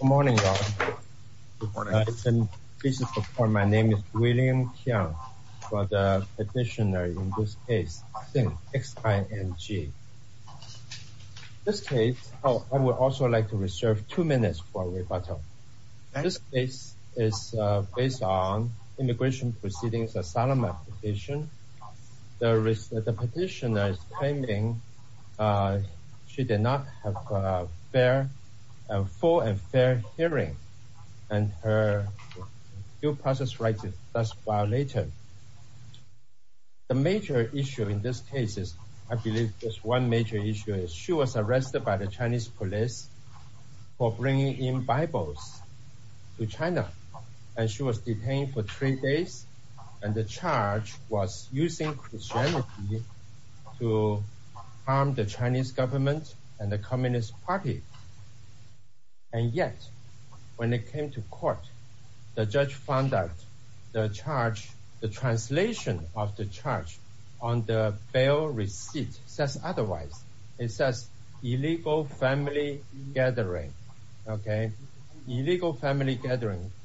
Good morning all. My name is William Kiang. I am the petitioner in this case, Xing, X-I-N-G. In this case, I would also like to reserve two minutes for rebuttal. This case is based on the immigration proceedings of the Solomon petition. The petitioner is claiming she did not have a full and fair hearing and her due process rights were thus violated. The major issue in this case is, I believe just one major issue, is she was arrested by the Chinese police for bringing in Bibles to China and she was detained for three days and the charge was using Christianity to harm the Chinese government and the communist party. And yet, when it came to court, the judge found out the charge, the translation of the charge on the bail receipt says otherwise. It says illegal family gathering, okay? Illegal family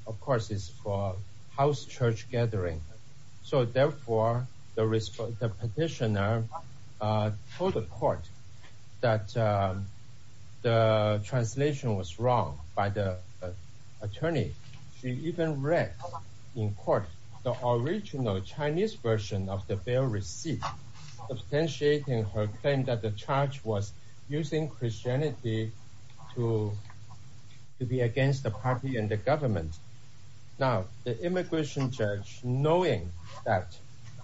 of course is for house church gathering. So therefore, the petitioner told the court that the translation was wrong by the attorney. She even read in court the original Chinese version of the bail receipt, substantiating her claim that the charge was using Christianity to to be against the party and the government. Now, the immigration judge knowing that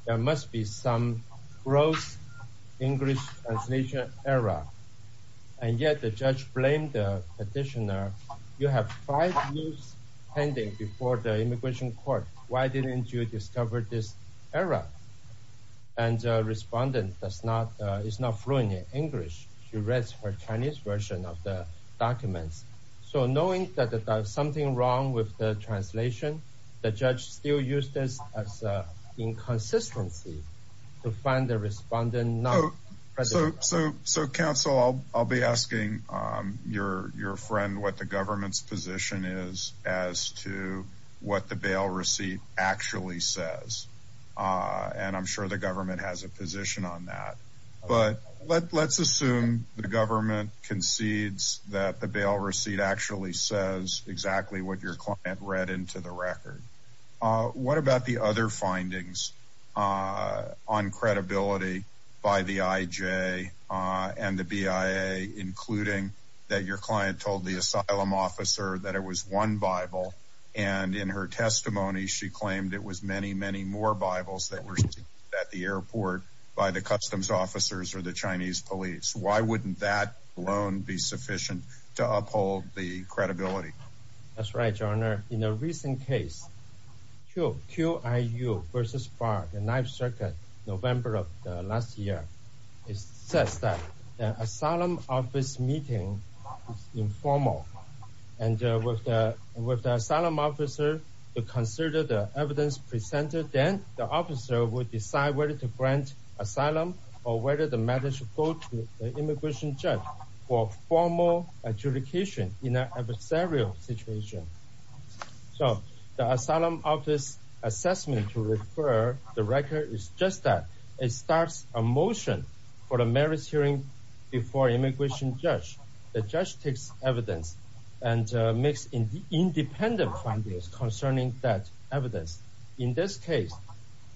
there must be some gross English translation error and yet the judge blamed the petitioner. You have five years pending before the immigration court. Why didn't you discover this error? And the respondent is not fluent in English. She reads her Chinese version of the documents. So knowing that there's something wrong with the translation, the judge still used this as inconsistency to find the respondent. So counsel, I'll be asking your friend what the government's position is as to what the bail receipt actually says. And I'm sure the government has a position on that. But let's assume the government concedes that the bail receipt actually says exactly what your client read into the record. What about the other findings on credibility by the IJ and the BIA, including that your client told the asylum officer that it was one Bible and in her testimony she the Chinese police. Why wouldn't that alone be sufficient to uphold the credibility? That's right, your honor. In a recent case, QIU versus FAR, the ninth circuit, November of last year, it says that the asylum office meeting is informal and with the asylum officer to consider the evidence presented. Then the officer would decide whether to grant asylum or whether the matter should go to the immigration judge for formal adjudication in an adversarial situation. So the asylum office assessment to refer the record is just that. It starts a motion for the merits hearing before immigration judge. The judge takes evidence and makes independent findings concerning that evidence. In this case,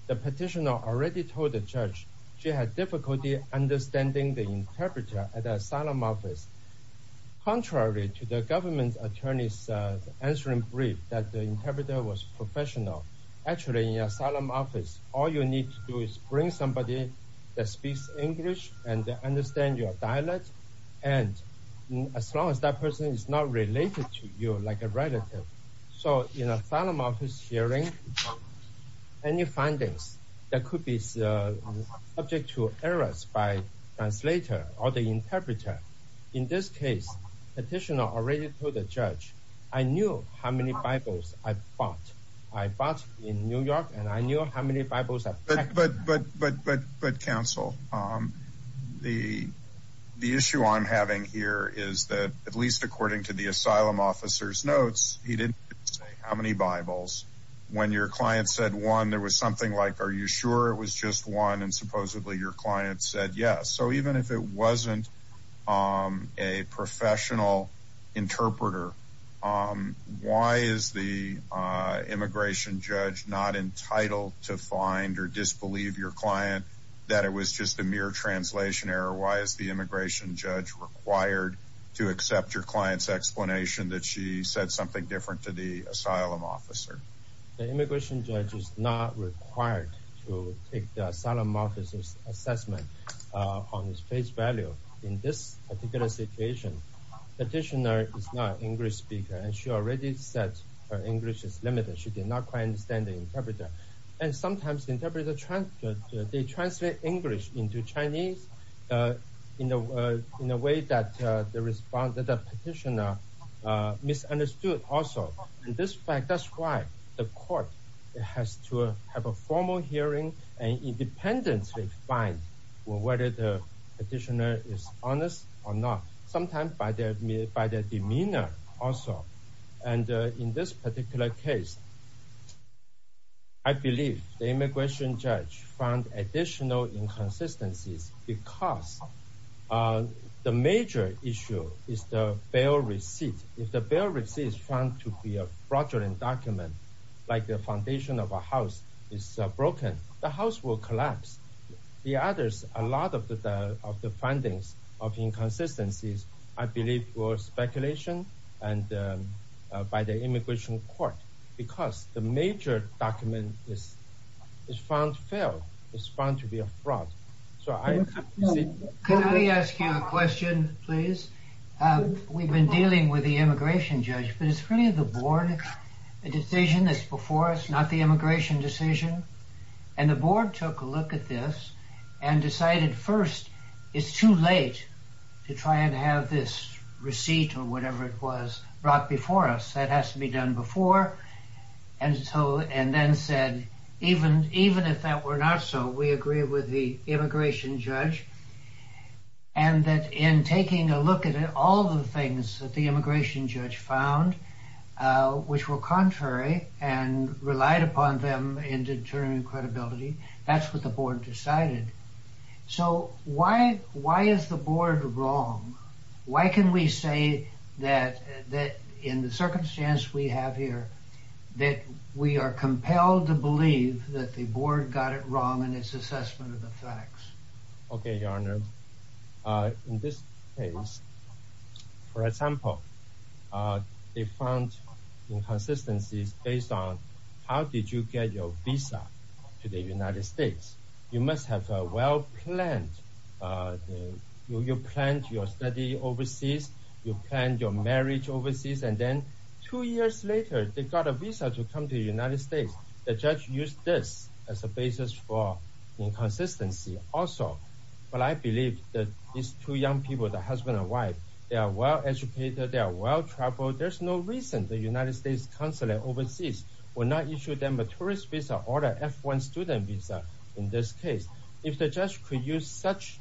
the petitioner already told the judge she had difficulty understanding the interpreter at the asylum office. Contrary to the government attorney's answering brief that the interpreter was professional, actually in asylum office, all you need to do is bring somebody that speaks English and understand your dialect. And as long as that person is not related to you like a relative, so in asylum office hearing, any findings that could be subject to errors by translator or the interpreter. In this case, petitioner already told the judge, I knew how many Bibles I bought. I bought in New York and I knew how many Bibles I packed. But counsel, the issue I'm having here is that at least according to the asylum officer's notes, he didn't say how many Bibles. When your client said one, there was something like, are you sure it was just one? And supposedly your client said yes. So even if it wasn't a professional interpreter, why is the immigration judge not entitled to find or disbelieve your client that it was just a mere translation error? Why is the immigration judge required to accept your client's explanation that she said something different to the asylum officer? The immigration judge is not required to take the asylum officer's assessment on his face value in this particular situation. Petitioner is not English speaker and she already said her English is limited. She did not quite understand the interpreter. And sometimes interpreter translate English into Chinese in a way that the petitioner misunderstood also. In this fact, that's why the court has to have a formal hearing and independently find whether the petitioner is honest or not, sometimes by their demeanor also. And in this particular case, I believe the immigration judge found additional inconsistencies because the major issue is the bail receipt. If the bail receipt is found to be a fraudulent document, like the foundation of a house is broken, the house will collapse. The others, a lot of the findings of inconsistencies, I believe were speculation by the immigration court because the major document is found to be a fraud. Can I ask you a question, please? We've been dealing with the immigration judge, but it's really the board decision that's before us, the immigration decision. And the board took a look at this and decided first, it's too late to try and have this receipt or whatever it was brought before us. That has to be done before. And then said, even if that were not so, we agree with the immigration judge. And that in taking a look at it, all the things that the immigration judge found, which were contrary and relied upon them in determining credibility, that's what the board decided. So why is the board wrong? Why can we say that in the circumstance we have here, that we are compelled to believe that the board got it wrong in its assessment of the facts? Okay, your honor. In this case, for example, they found inconsistencies based on how did you get your visa to the United States? You must have a well-planned, you planned your study overseas, you planned your marriage overseas. And then two years later, they got a visa to come to the United States. The judge used this as a basis for inconsistency also. But I believe that these two young people, the husband and wife, they are well-educated, they are well-traveled, there's no reason the United States consulate overseas will not issue them a tourist visa or an F1 student visa in this case. If the judge could use such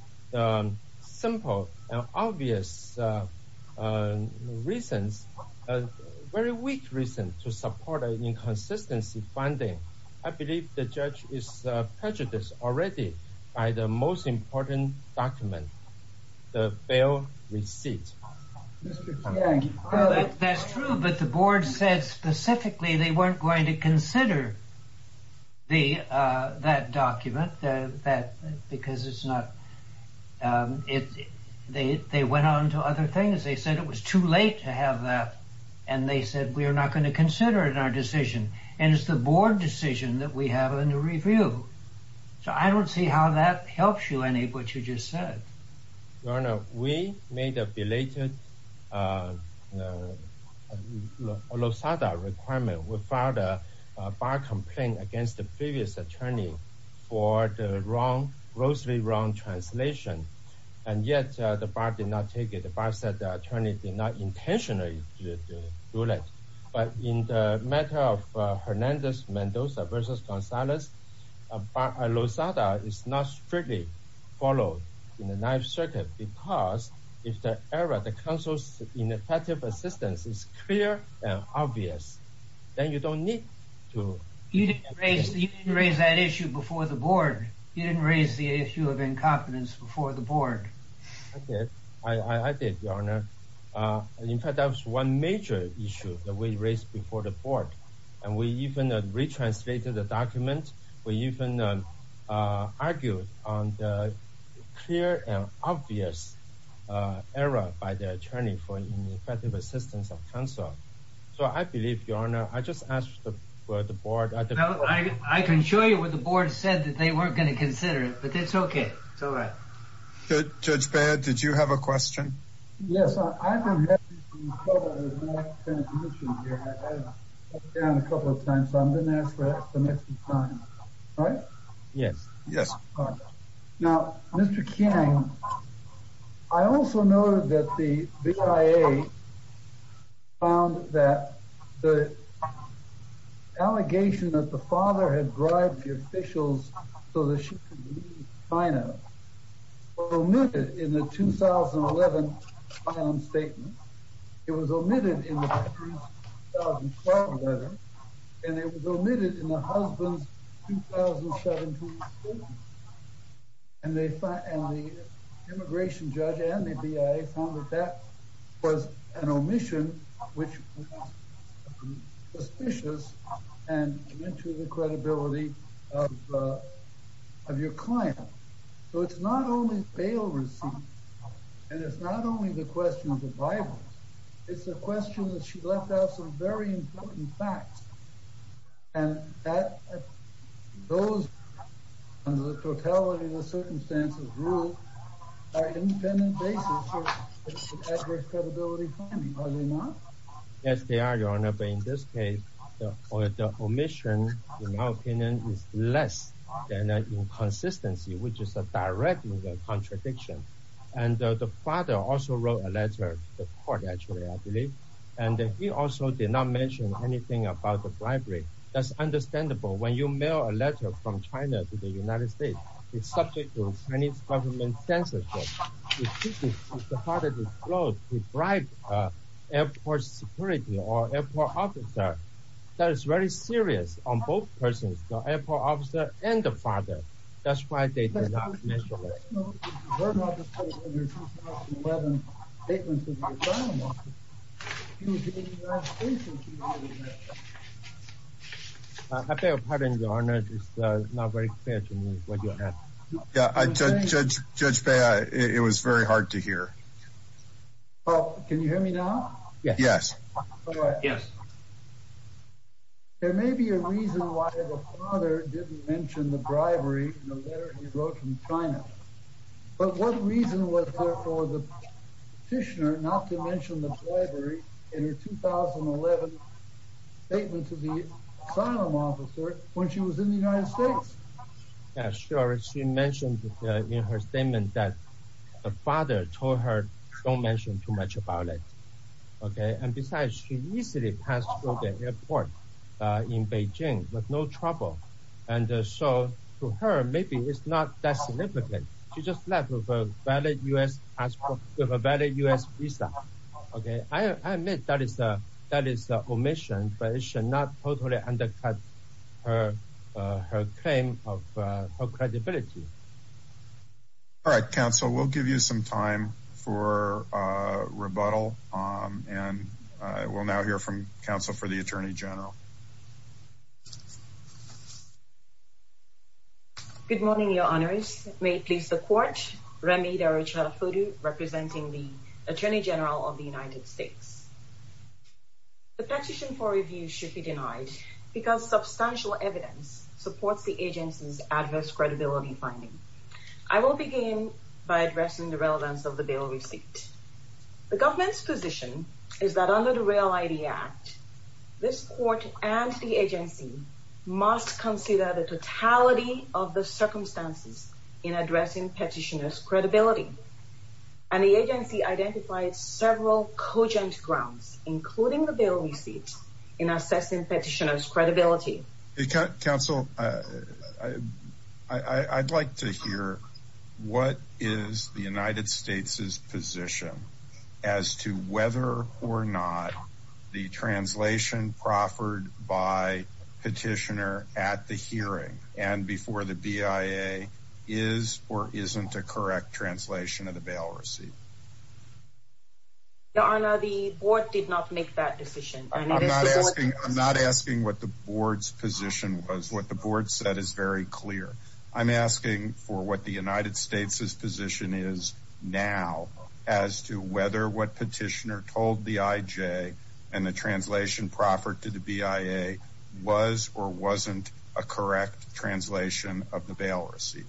simple and obvious reasons, a very weak reason to support an inconsistency funding, I believe the judge is prejudiced already by the most important document, the bail receipt. That's true, but the board said specifically they weren't going to consider that document because they went on to other things. They said it was too late to have that and they said we are not going to consider it in our decision. And it's the board decision that we have in the review. So I don't see how that helps you any of what you just said. Your Honor, we made a belated Lozada requirement. We filed a bar complaint against the previous attorney for the wrong, grossly wrong translation. And yet the bar did not take it. The bar said the attorney did not intentionally do that. But in the matter of Hernandez-Mendoza versus Gonzalez, Bar Lozada is not strictly followed in the life circuit because if the error, the counsel's ineffective assistance is clear and obvious, then you don't need to... You didn't raise that issue before the board. You didn't raise the issue of incompetence before the board. I did, Your Honor. In fact, that was one major issue that we raised before the board and we even retranslated the document even argued on the clear and obvious error by the attorney for ineffective assistance of counsel. So I believe, Your Honor, I just asked the board... I can show you what the board said that they weren't going to consider it, but it's okay. It's all right. Judge Baird, did you have a question? Yes, I've been having some trouble with my translation here. I've been down a couple of times, so I'm going to ask for that the next time, right? Yes. Yes. Now, Mr. King, I also noted that the BIA found that the allegation that the father had bribed the officials so that she could leave China omitted in the 2011 filing statement. It was omitted in the 2012 letter. And it was omitted in the husband's 2017 statement. And the immigration judge and the BIA found that that was an omission, which was suspicious and to the credibility of your client. So it's not only bail receipts, and it's not only the question of the Bible. It's a question that she left out some very important facts. And those, under the totality of the circumstances rule, are independent basis for adverse credibility finding. Are they not? Yes, they are, Your Honor. But in this case, the omission, in my opinion, is less than an inconsistency, which is a direct contradiction. And the father also wrote a letter to the court, I believe. And he also did not mention anything about the bribery. That's understandable. When you mail a letter from China to the United States, it's subject to Chinese government censorship. The father disclosed he bribed the airport security or airport officer. That is very serious on both persons, the airport officer and the father. That's why they did not mention it. I beg your pardon, Your Honor. It's not very clear to me what you're asking. Yeah, Judge Bea, it was very hard to hear. Well, can you hear me now? Yes. Yes. There may be a reason why the father didn't mention the bribery in the letter he wrote from in her 2011 statement to the asylum officer when she was in the United States. Yeah, sure. She mentioned in her statement that the father told her don't mention too much about it. Okay. And besides, she easily passed through the airport in Beijing with no trouble. And so to her, maybe it's not that significant. She just left with a valid U.S. passport, with a valid U.S. visa. Okay. I admit that is an omission, but it should not totally undercut her claim of credibility. All right, counsel, we'll give you some time for rebuttal. And we'll now hear from Good morning, Your Honors. May it please the court, Remy Darucharafudu, representing the Attorney General of the United States. The petition for review should be denied because substantial evidence supports the agency's adverse credibility finding. I will begin by addressing the relevance of the bill receipt. The government's position is that under the REAL ID Act, this court and the agency must consider the totality of the circumstances in addressing petitioner's credibility. And the agency identified several cogent grounds, including the bill receipt, in assessing petitioner's credibility. Counsel, I'd like to hear what is the United States' position as to whether or not the and before the BIA is or isn't a correct translation of the bail receipt? Your Honor, the board did not make that decision. I'm not asking what the board's position was. What the board said is very clear. I'm asking for what the United States' position is now as to whether what petitioner told the IJ and the translation proffered to the BIA was or wasn't a correct translation of the bail receipt.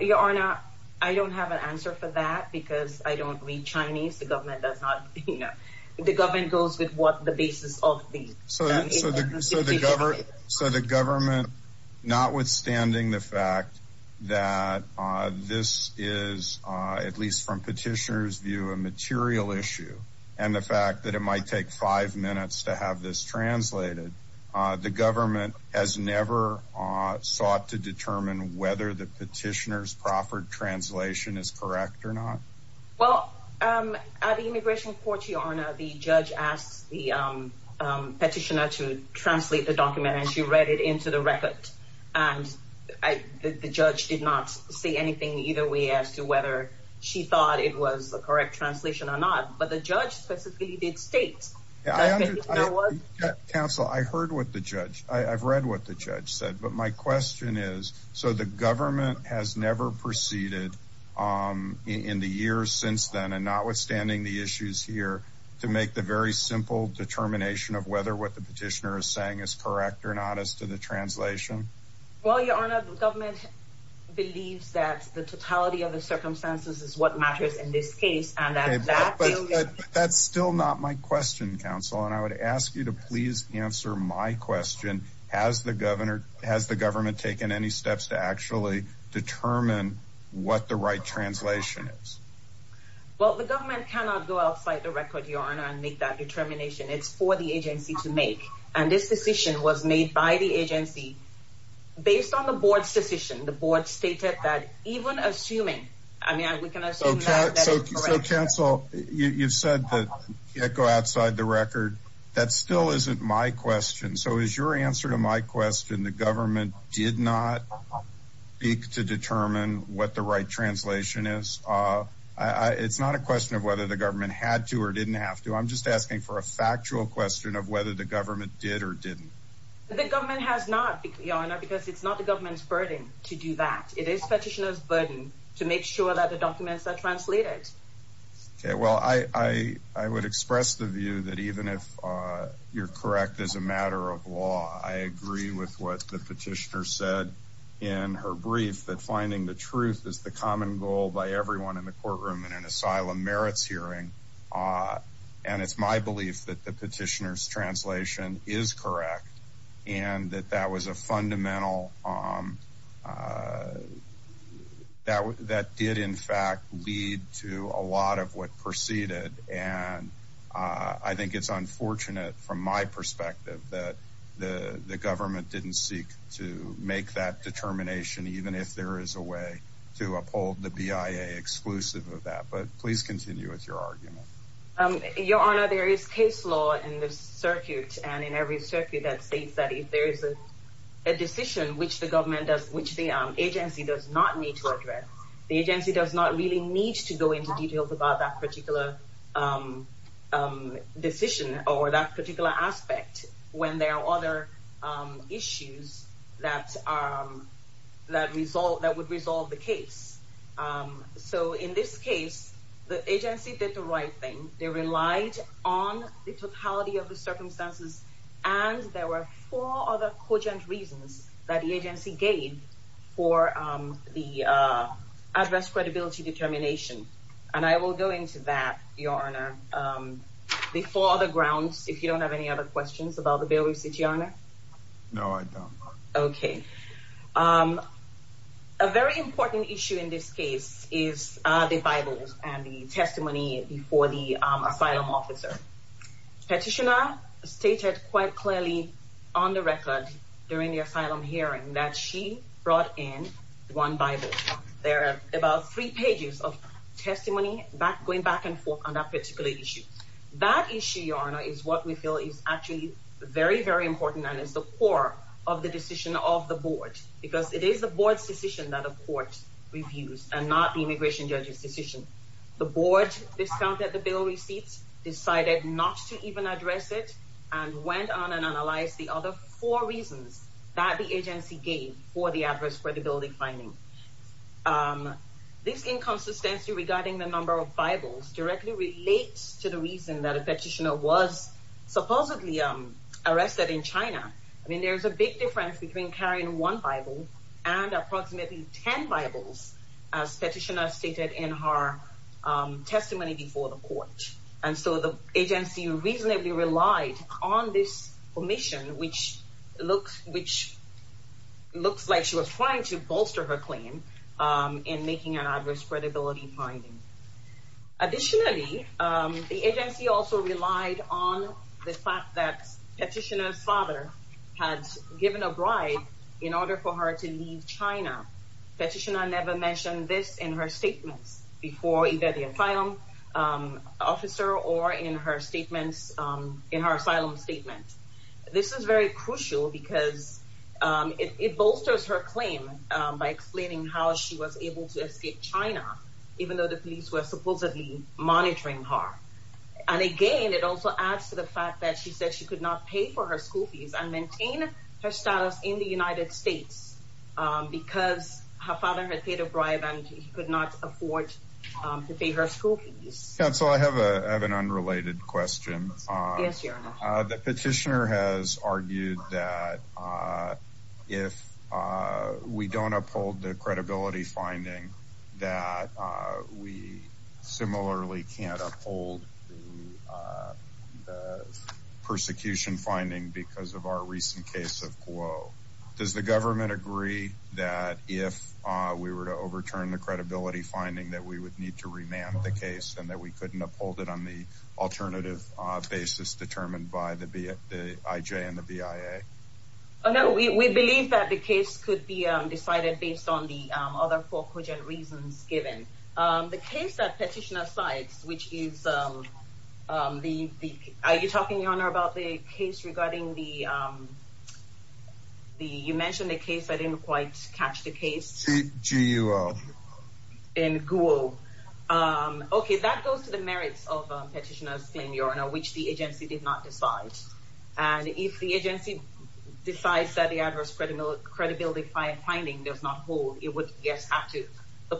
Your Honor, I don't have an answer for that because I don't read Chinese. The government does not, you know, the government goes with what the basis of these. So the government, notwithstanding the fact that this is, at least from petitioner's view, a material issue, and the fact that it might take five minutes to have this translated, the government has never sought to determine whether the petitioner's proffered translation is correct or not? Well, at the immigration court, Your Honor, the judge asked the petitioner to translate the document and she read it into the record. And the judge did not say anything either way as to whether she thought it was the correct translation or not. But the judge specifically did state. Counsel, I heard what the judge, I've read what the judge said, but my question is, so the government has never proceeded in the years since then, and notwithstanding the issues here, to make the very simple determination of whether what the petitioner is saying is correct or not as to the translation? Well, Your Honor, the government believes that the totality of the circumstances is what matters in this case. But that's still not my question, Counsel, and I would ask you to please answer my question. Has the governor, has the government taken any steps to actually determine what the right translation is? Well, the government cannot go outside the record, Your Honor, and make that determination. It's for the agency to make. And this decision was made by the agency based on the board's decision. The board stated that even assuming, I mean, we can assume now that it's correct. So Counsel, you've said that you can't go outside the record. That still isn't my question. So is your answer to my question, the government did not speak to determine what the right translation is? It's not a question of whether the government had to or didn't have to. I'm just asking for a factual question of whether the government did or didn't. The government has not, Your Honor, because it's not the government's burden to do that. It is petitioner's burden to make sure that the documents are translated. Okay. Well, I would express the view that even if you're correct as a matter of law, I agree with what the petitioner said in her brief that finding the truth is the petitioner's translation is correct. And that that was a fundamental, that did in fact lead to a lot of what proceeded. And I think it's unfortunate from my perspective that the government didn't seek to make that determination, even if there is a way to uphold the BIA exclusive of that. But please continue with your argument. Your Honor, there is case law in the circuit and in every circuit that states that if there is a decision which the government does, which the agency does not need to address, the agency does not really need to go into details about that particular decision or that particular aspect when there are other issues that would resolve the case. So in this case, the agency did the right thing. They relied on the totality of the circumstances. And there were four other cogent reasons that the agency gave for the address credibility determination. And I will go into that, Your Honor, before the grounds, if you don't have any other questions about the bail receipt, Your Honor? No, I don't. Okay. A very important issue in this case is the Bible and the testimony before the asylum officer. Petitioner stated quite clearly on the record during the asylum hearing that she brought in one Bible. There are about three pages of testimony going back and forth on that particular issue. That issue, Your Honor, is what we feel is actually very, very important and is the core of the decision of the board because it is the board's decision that a court reviews and not the immigration judge's decision. The board discounted the bail receipts, decided not to even address it, and went on and analyzed the other four reasons that the agency gave for the address credibility finding. This inconsistency regarding the number of Bibles directly relates to the reason that a petitioner was supposedly arrested in China. I mean, there's a big difference between carrying one Bible and approximately 10 Bibles, as petitioner stated in her testimony before the court. And so the agency reasonably relied on this permission, which looks like she was trying to bolster her claim in making an address credibility finding. Additionally, the agency also relied on the fact that petitioner's father had given a bribe in order for her to leave China. Petitioner never mentioned this in her statements before either the asylum officer or in her asylum statement. This is very crucial because it bolsters her claim by explaining how she was able to escape China, even though the police were supposedly monitoring her. And again, it also adds to the fact that she said she could not pay for her school fees and maintain her status in the United States because her father had paid a bribe and he could not afford to pay her school fees. Counsel, I have an unrelated question. Yes, Your Honor. The petitioner has argued that if we don't uphold the credibility finding that we similarly can't uphold the persecution finding because of our recent case of Guo. Does the government agree that if we were to overturn the credibility finding that we would to remand the case and that we couldn't uphold it on the alternative basis determined by the IJ and the BIA? No, we believe that the case could be decided based on the other four cogent reasons given. The case that petitioner cites, which is... Are you talking, Your Honor, about the case regarding the... Okay, that goes to the merits of petitioner's claim, Your Honor, which the agency did not decide. And if the agency decides that the adverse credibility finding does not hold, it would yes, have to, the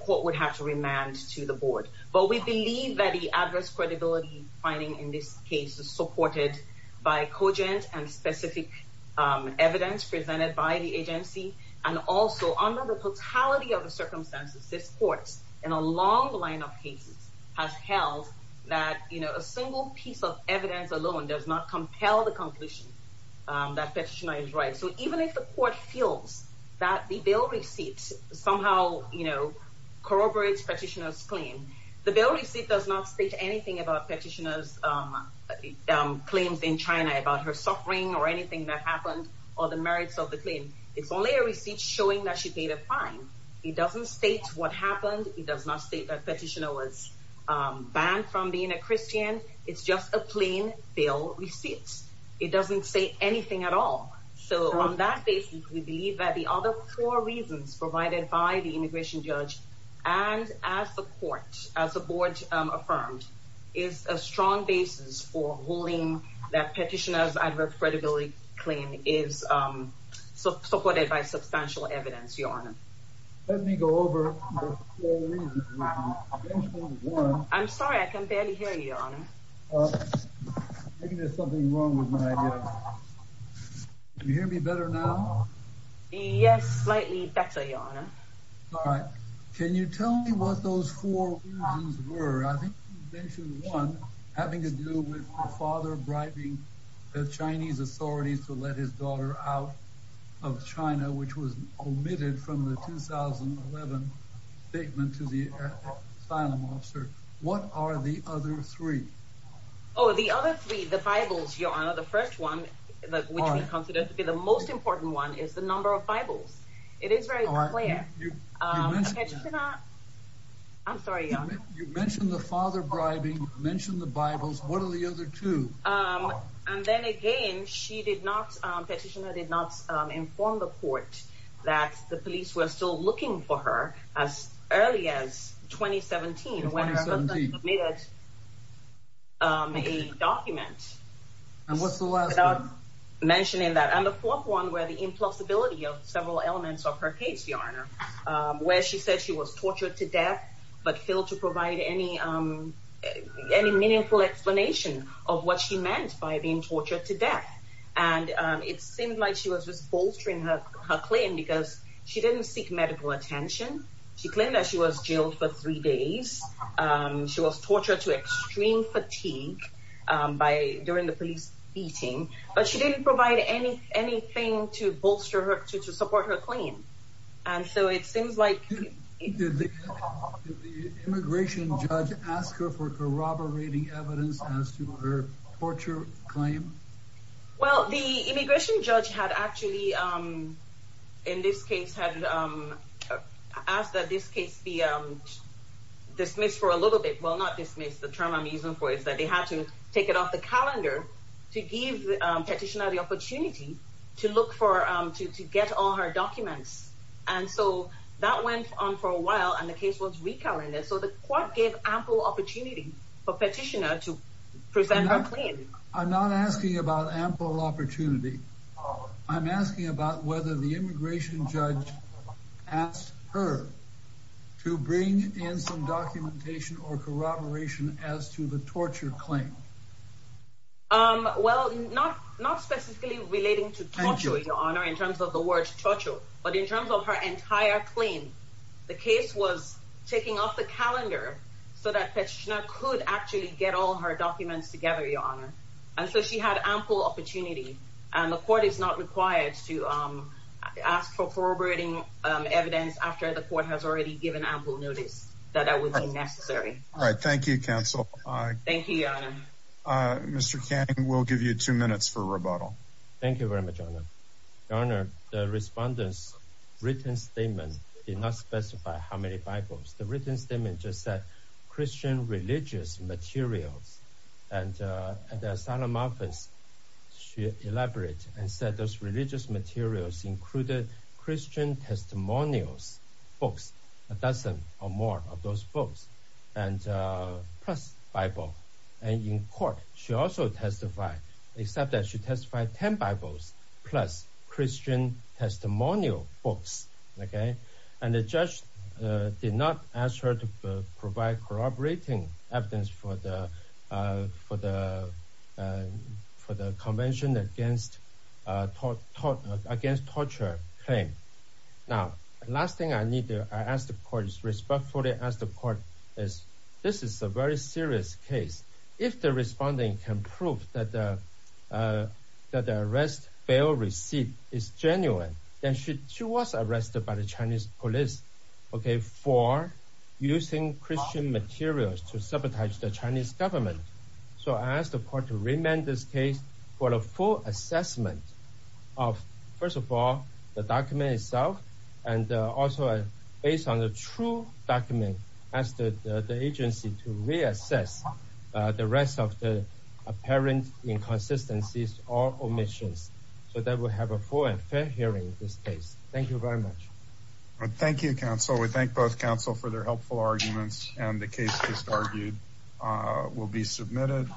court would have to remand to the board. But we believe that the adverse credibility finding in this case is supported by cogent and specific evidence presented by the agency. And also, under the totality of the circumstances, this court in a long line of cases has held that a single piece of evidence alone does not compel the conclusion that petitioner is right. So even if the court feels that the bill receipt somehow corroborates petitioner's claim, the bill receipt does not state anything about petitioner's claims in China, about her suffering or anything that happened, or the merits of the claim. It's only a receipt showing that she paid a fine. It doesn't state what happened. It does not state that petitioner was banned from being a Christian. It's just a plain bill receipt. It doesn't say anything at all. So on that basis, we believe that the other four reasons provided by the ruling that petitioner's adverse credibility claim is supported by substantial evidence, Your Honor. Let me go over the four reasons. I'm sorry, I can barely hear you, Your Honor. Maybe there's something wrong with my hearing. Can you hear me better now? Yes, slightly better, Your Honor. All right. Can you tell me what those four reasons were? I think you mentioned one, having to do with the father bribing the Chinese authorities to let his daughter out of China, which was omitted from the 2011 statement to the asylum officer. What are the other three? Oh, the other three, the Bibles, Your Honor. The first one, which we consider to be the most important one, is the number of Bibles. It is very clear. I'm sorry, Your Honor. You mentioned the father bribing, mentioned the Bibles. What are the other two? And then again, the petitioner did not inform the court that the police were still looking for her as early as 2017, when her husband submitted a document. And what's the last one? Mentioning that. And the fourth one were the impossibility of several elements of her case, where she said she was tortured to death, but failed to provide any meaningful explanation of what she meant by being tortured to death. And it seemed like she was just bolstering her claim because she didn't seek medical attention. She claimed that she was jailed for three days. She was tortured to extreme fatigue during the police beating, but she didn't provide anything to bolster her, to support her claim. And so it seems like... Did the immigration judge ask her for corroborating evidence as to her torture claim? Well, the immigration judge had actually, in this case, had asked that this case be dismissed for a little bit. Well, not dismissed. The term I'm using for it is that they had to take it off the calendar to give the petitioner the opportunity to look for, to get all her documents. And so that went on for a while and the case was recalibrated. So the court gave ample opportunity for petitioner to present her claim. I'm not asking about ample opportunity. I'm asking about whether the immigration judge asked her to bring in some documentation or corroboration as to the torture claim. Well, not specifically relating to torture, your honor, in terms of the word torture, but in terms of her entire claim, the case was taking off the calendar so that petitioner could actually get all her documents together, your honor. And so she had ample opportunity and the court is not required to ask for corroborating evidence after the court has already given ample notice that that would be necessary. All right. Thank you, counsel. Thank you, your honor. Mr. Kang, we'll give you two minutes for rebuttal. Thank you very much, your honor. Your honor, the respondent's written statement did not specify how many Bibles. The written statement just said Christian religious materials. And the asylum office, she elaborated and said those religious materials included Christian testimonials, books, a dozen or more of those books and plus Bible. And in court, she also testified, except that she testified 10 Bibles plus Christian testimonial books. Okay. And the judge did not ask her to provide corroborating evidence for the for the convention against torture claim. Now, last thing I need to ask the court is respectfully ask the court is, this is a very serious case. If the respondent can prove that the arrest bail receipt is genuine, then she was arrested by the Chinese police, okay, for using Christian materials to sabotage the Chinese government. So I asked the court to remand this case for a full assessment of, first of all, the document itself, and also based on the true document as the agency to reassess the rest of the apparent inconsistencies or omissions. So that we'll have a full and fair hearing in this case. Thank you very much. Thank you, counsel. We thank both counsel for their helpful arguments and the case just argued will be submitted.